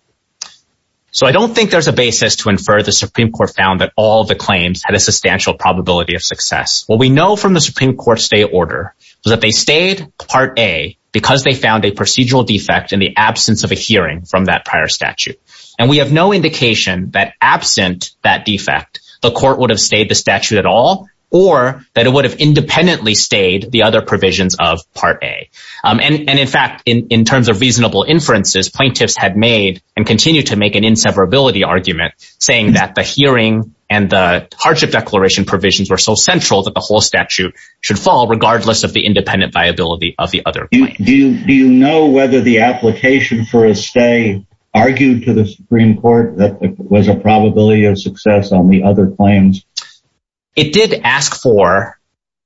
So I don't think there's a basis to infer the Supreme Court found that all the claims had a substantial probability of success. What we know from the Supreme Court stay order is that they stayed part A because they found a procedural defect in the absence of a hearing from that prior statute. And we have no indication that absent that defect, the court would have stayed the statute at all, or that it would have independently stayed the other provisions of part A. And in fact, in terms of reasonable inferences, plaintiffs had made and continue to make an inseverability argument saying that the hearing and the hardship declaration provisions were so central that the whole statute should fall regardless of the independent viability of the other. Do you know whether the application for a stay argued to the Supreme Court that was a probability of success on the other claims? It did ask for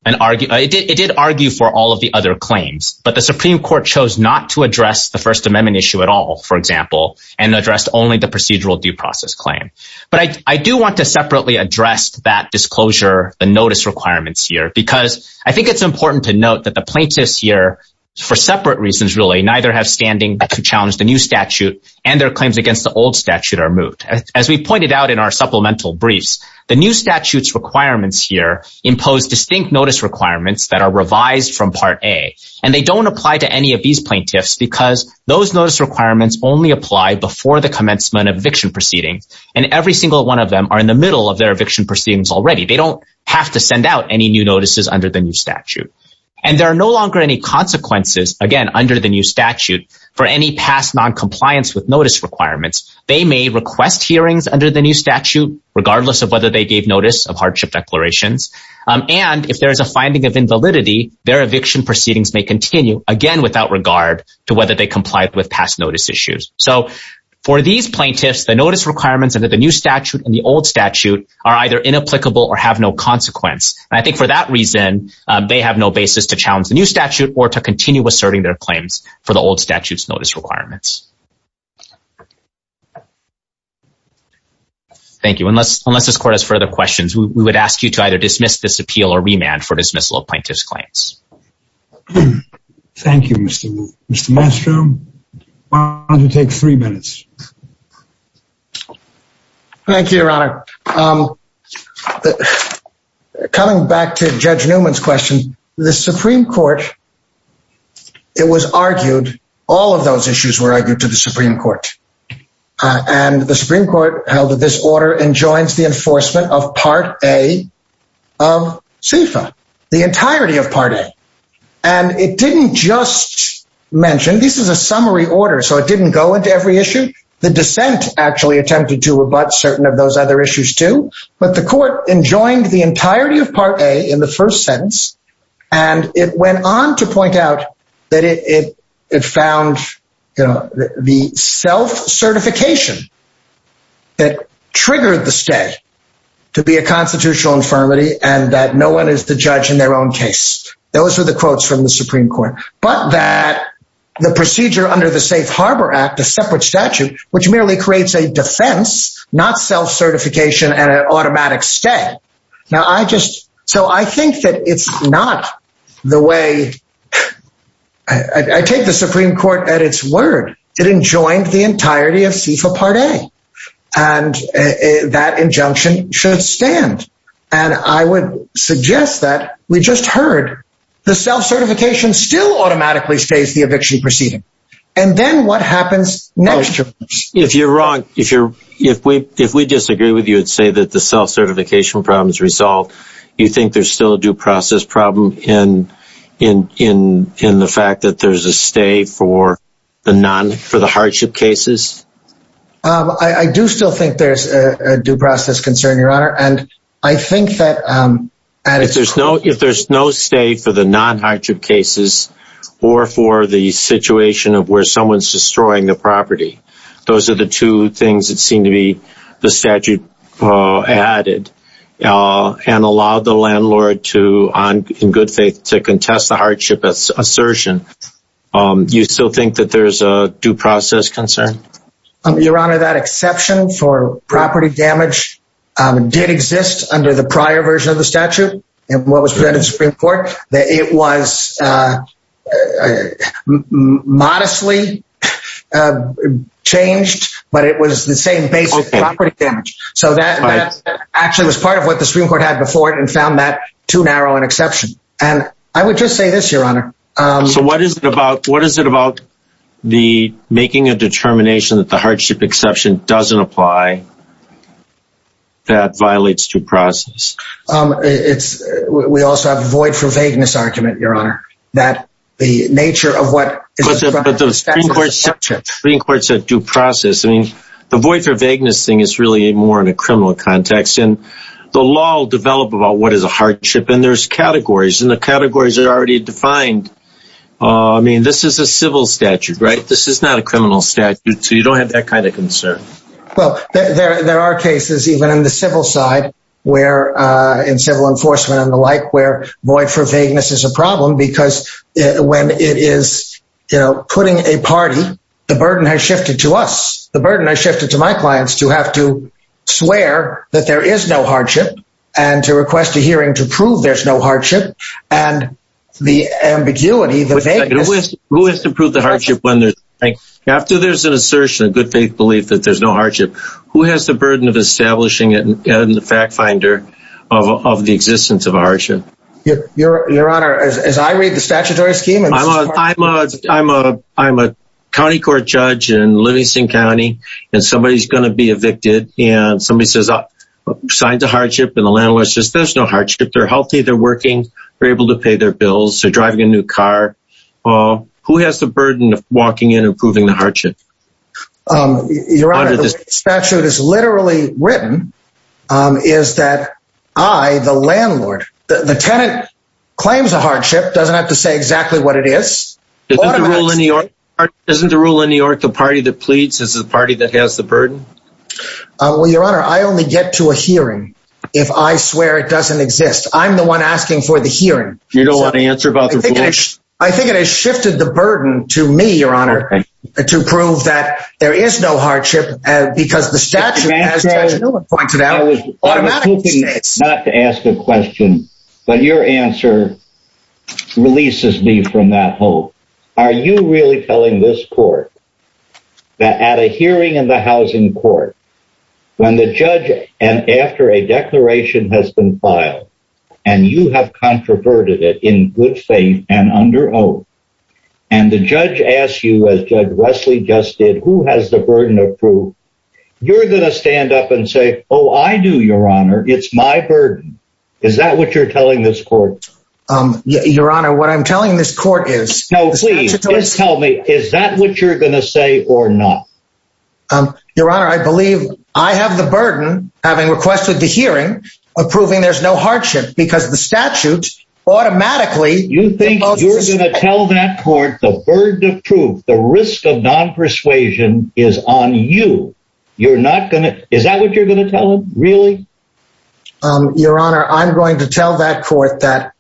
an argument, it did argue for all of the other claims, but the Supreme Court chose not to address the First Amendment issue at all, for example, and addressed only the procedural due process claim. But I do want to separately address that disclosure, the notice requirements here, because I think it's important to note that the plaintiffs here, for separate reasons, really neither have standing to challenge the new statute and their claims against the old statute are moved. As we pointed out in our supplemental briefs, the new statute's requirements here impose distinct notice requirements that are revised from part A, and they don't apply to any of these plaintiffs because those notice requirements only apply before the commencement of eviction proceedings, and every single one of them are in the middle of their eviction proceedings already. They don't have to send out any new notices under the new statute. And there are no longer any consequences, again, under the new notice requirements. They may request hearings under the new statute, regardless of whether they gave notice of hardship declarations. And if there is a finding of invalidity, their eviction proceedings may continue, again, without regard to whether they complied with past notice issues. So for these plaintiffs, the notice requirements under the new statute and the old statute are either inapplicable or have no consequence. And I think for that reason, they have no basis to challenge the new statute or to continue asserting their claims for the old statute's requirements. Thank you. Unless this court has further questions, we would ask you to either dismiss this appeal or remand for dismissal of plaintiff's claims. Thank you, Mr. Maestro. I'm going to take three minutes. Thank you, Your Honor. Coming back to Judge Newman's question, the Supreme Court, it was argued, all of those issues were argued to the Supreme Court. And the Supreme Court held that this order enjoins the enforcement of Part A of CIFA, the entirety of Part A. And it didn't just mention, this is a summary order, so it didn't go into every issue. The dissent actually attempted to rebut certain of those other issues too. But the court enjoined the entirety of Part A in the first sentence. And it went on to point out that it found the self-certification that triggered the stay to be a constitutional infirmity and that no one is the judge in their own case. Those were the quotes from the Supreme Court. But that the procedure under the Safe Harbor Act, a separate statute, which merely creates a defense, not self-certification and I think that it's not the way. I take the Supreme Court at its word. It enjoined the entirety of CIFA Part A. And that injunction should stand. And I would suggest that we just heard the self-certification still automatically stays the eviction proceeding. And then what happens next? If you're wrong, if you're, if we, if we disagree with you, say that the self-certification problem is resolved, you think there's still a due process problem in, in, in, in the fact that there's a stay for the non, for the hardship cases? I do still think there's a due process concern, Your Honor. And I think that, if there's no stay for the non-hardship cases, or for the situation of where someone's destroying the property, those are the two things that seem to be the statute added and allowed the landlord to, in good faith, to contest the hardship assertion. You still think that there's a due process concern? Your Honor, that exception for property damage did exist under the prior version of the statute, and what was presented to the Supreme Court, that it was modestly changed, but it was the same basic property damage. So that actually was part of what the Supreme Court had before it and found that too narrow an exception. And I would just say this, Your Honor. So what is it about what is it about the making a determination that the hardship exception doesn't apply, that violates due process? It's, we also have a void for vagueness argument, Your Honor, that the nature of what... But the Supreme Court said due process. I mean, the void for vagueness thing is really more in a criminal context. And the law will develop about what is a hardship and there's categories and the categories are already defined. I mean, this is a civil statute, right? This is not a criminal statute. So you don't have that kind of concern. Well, there are cases even in the civil side, where in civil enforcement and the like where void for vagueness is a problem, because when it is, you know, putting a party, the burden has shifted to us, the burden has shifted to my clients to have to swear that there is no hardship, and to request a hearing to prove there's no hardship. And the ambiguity, the vagueness... Who has to prove the hardship when there's... After there's an assertion, a good faith belief that there's no hardship, who has the burden of establishing it in the fact finder of the existence of a hardship? Your Honor, as I read the statutory scheme... I'm a county court judge in Livingston County, and somebody is going to be evicted. And somebody says, signs a hardship and the landlord says, there's no hardship, they're healthy, they're driving a new car. Who has the burden of walking in and proving the hardship? Your Honor, the way the statute is literally written is that I, the landlord, the tenant claims a hardship, doesn't have to say exactly what it is. Isn't the rule in New York, the party that pleads is the party that has the burden? Well, Your Honor, I only get to a hearing. If I swear it doesn't exist. I'm the one asking for the hearing. You don't want to answer about the rule? I think it has shifted the burden to me, Your Honor, to prove that there is no hardship, because the statute has pointed out... Not to ask a question, but your answer releases me from that hope. Are you really telling this court that at a hearing in the housing court, when the judge and after a declaration has been filed, and you have controverted it in good faith and under oath, and the judge asked you, as Judge Wesley just did, who has the burden of proof? You're going to stand up and say, Oh, I do, Your Honor, it's my burden. Is that what you're telling this court? Your Honor, what I'm telling this court is... No, please tell me, is that what you're going to say or not? Your Honor, I believe I have the burden, having requested the hearing, approving there's no hardship, because the statute automatically... You think you're going to tell that court the burden of proof, the risk of non-persuasion is on you. You're not going to... Is that what you're going to tell them? Really? Your Honor, I'm going to tell that court that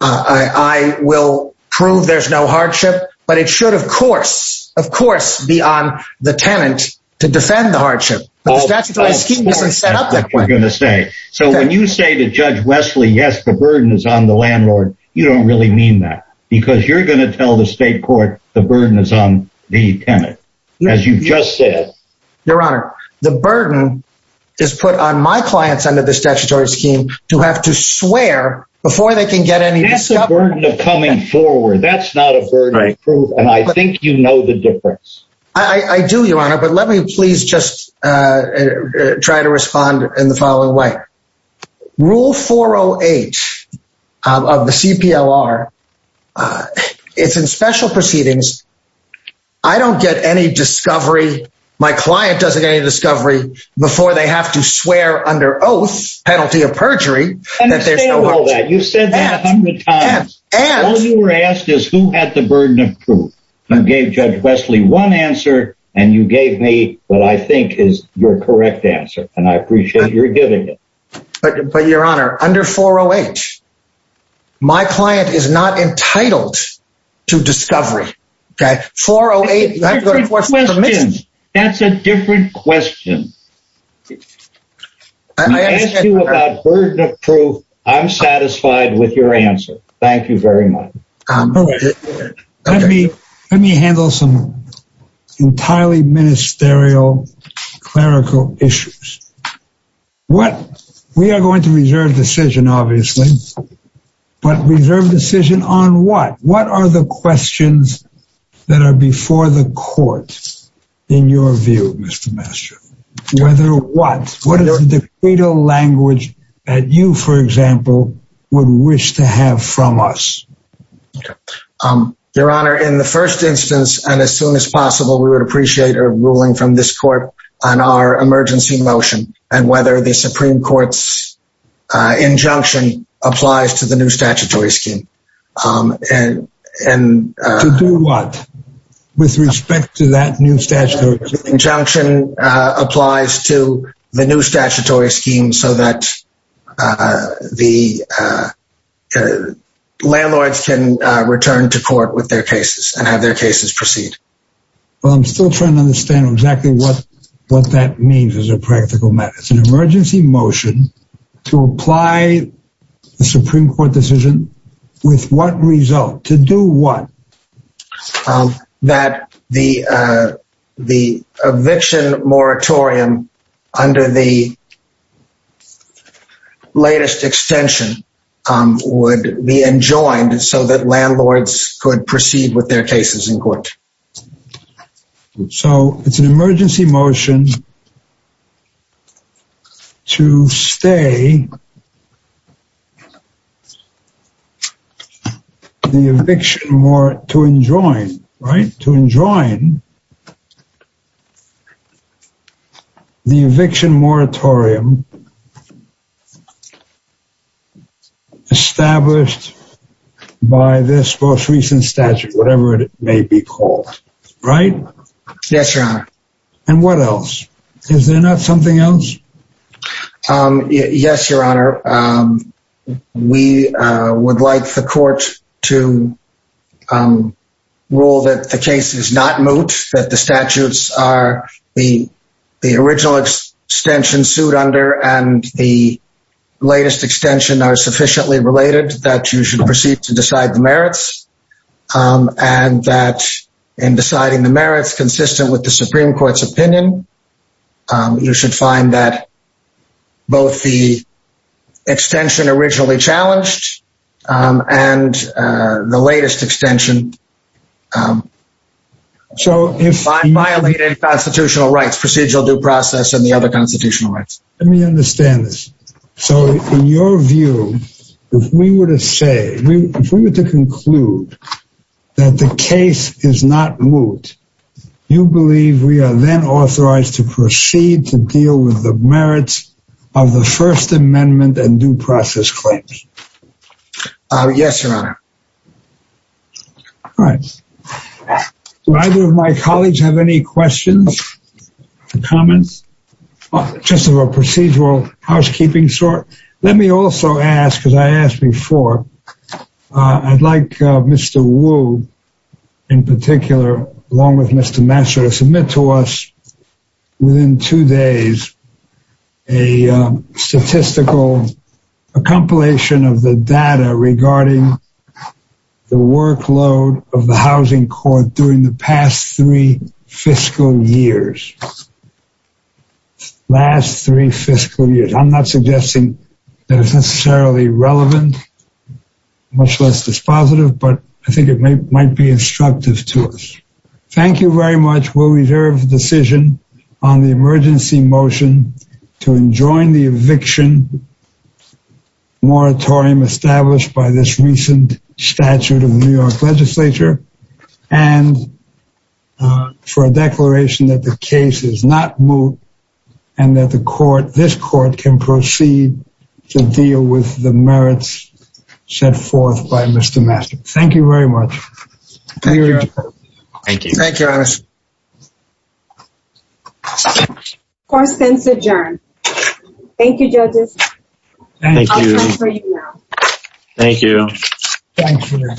I will prove there's no hardship, but it should, of course, of course, be on the tenant to defend the hardship. The statutory scheme doesn't set up that point. That's what you're going to say. So when you say to Judge Wesley, yes, the burden is on the landlord, you don't really mean that, because you're going to tell the state court the burden is on the tenant, as you've just said. Your Honor, the burden is put on my clients under the statutory scheme to have to swear before they can get any discovery. That's the burden of coming forward. That's not a burden of proof, and I think you know the try to respond in the following way. Rule 408 of the CPLR, it's in special proceedings. I don't get any discovery. My client doesn't get any discovery before they have to swear under oath, penalty of perjury, that there's no hardship. You've said that a hundred times. All you were asked is who had the burden of proof. I gave Judge Wesley one answer, and you gave me what I think is your correct answer, and I appreciate you're giving it. But Your Honor, under 408, my client is not entitled to discovery. 408, that's a different question. I asked you about burden of proof. I'm satisfied with your answer. Thank you very much. Let me handle some entirely ministerial clerical issues. We are going to reserve decision, obviously, but reserve decision on what? What are the questions that are before the court in your view, Mr. Mastroff? Whether what? What is the credo language that you, for example, would wish to have from us? Okay. Your Honor, in the first instance, and as soon as possible, we would appreciate a ruling from this court on our emergency motion and whether the Supreme Court's injunction applies to the new statutory scheme. To do what with respect to that new statutory scheme? Injunction applies to the new statutory scheme so that the landlords can return to court with their cases and have their cases proceed. Well, I'm still trying to understand exactly what that means as a practical matter. It's an emergency motion to apply the Supreme Court decision with what result? To do what? That the eviction moratorium under the latest extension would be enjoined so that landlords could proceed with their cases in court. So it's an emergency motion to stay in the eviction moratorium established by this most recent statute, whatever it may be called. Right? Yes, Your Honor. And what else? Is there not something else? Um, yes, Your Honor. We would like the court to rule that the case is not moot, that the statutes are the original extension sued under and the latest extension are sufficiently related that you should proceed to decide the merits. And that in deciding the merits consistent with the Supreme Court's opinion, um, you should find that both the extension originally challenged, um, and, uh, the latest extension, um, violated constitutional rights, procedural due process and the other constitutional rights. Let me understand this. So in your view, if we were to say, if we were to conclude that the case is not moot, you believe we are then authorized to proceed to deal with the merits of the First Amendment and due process claims? Uh, yes, Your Honor. All right. Do either of my colleagues have any questions or comments? Just of a procedural housekeeping sort? Let me also ask, because I asked before, uh, I'd like, uh, Mr. Wu, in particular, along with Mr. Mansour, to submit to us within two days a, um, statistical a compilation of the data regarding the workload of the housing court during the past three fiscal years. Last three fiscal years. I'm not suggesting that it's necessarily relevant, much less dispositive, but I think it may, might be instructive to us. Thank you very much. We'll reserve the decision on the emergency motion to enjoin the eviction moratorium established by this recent statute of the New York legislature and, uh, for a declaration that the case is not moot and that the court, this court, can proceed to deal with the merits set forth by Mr. Mansour. Thank you very much. Thank you. Thank you, Your Honor. Court is adjourned. Thank you, judges. Thank you. Thank you.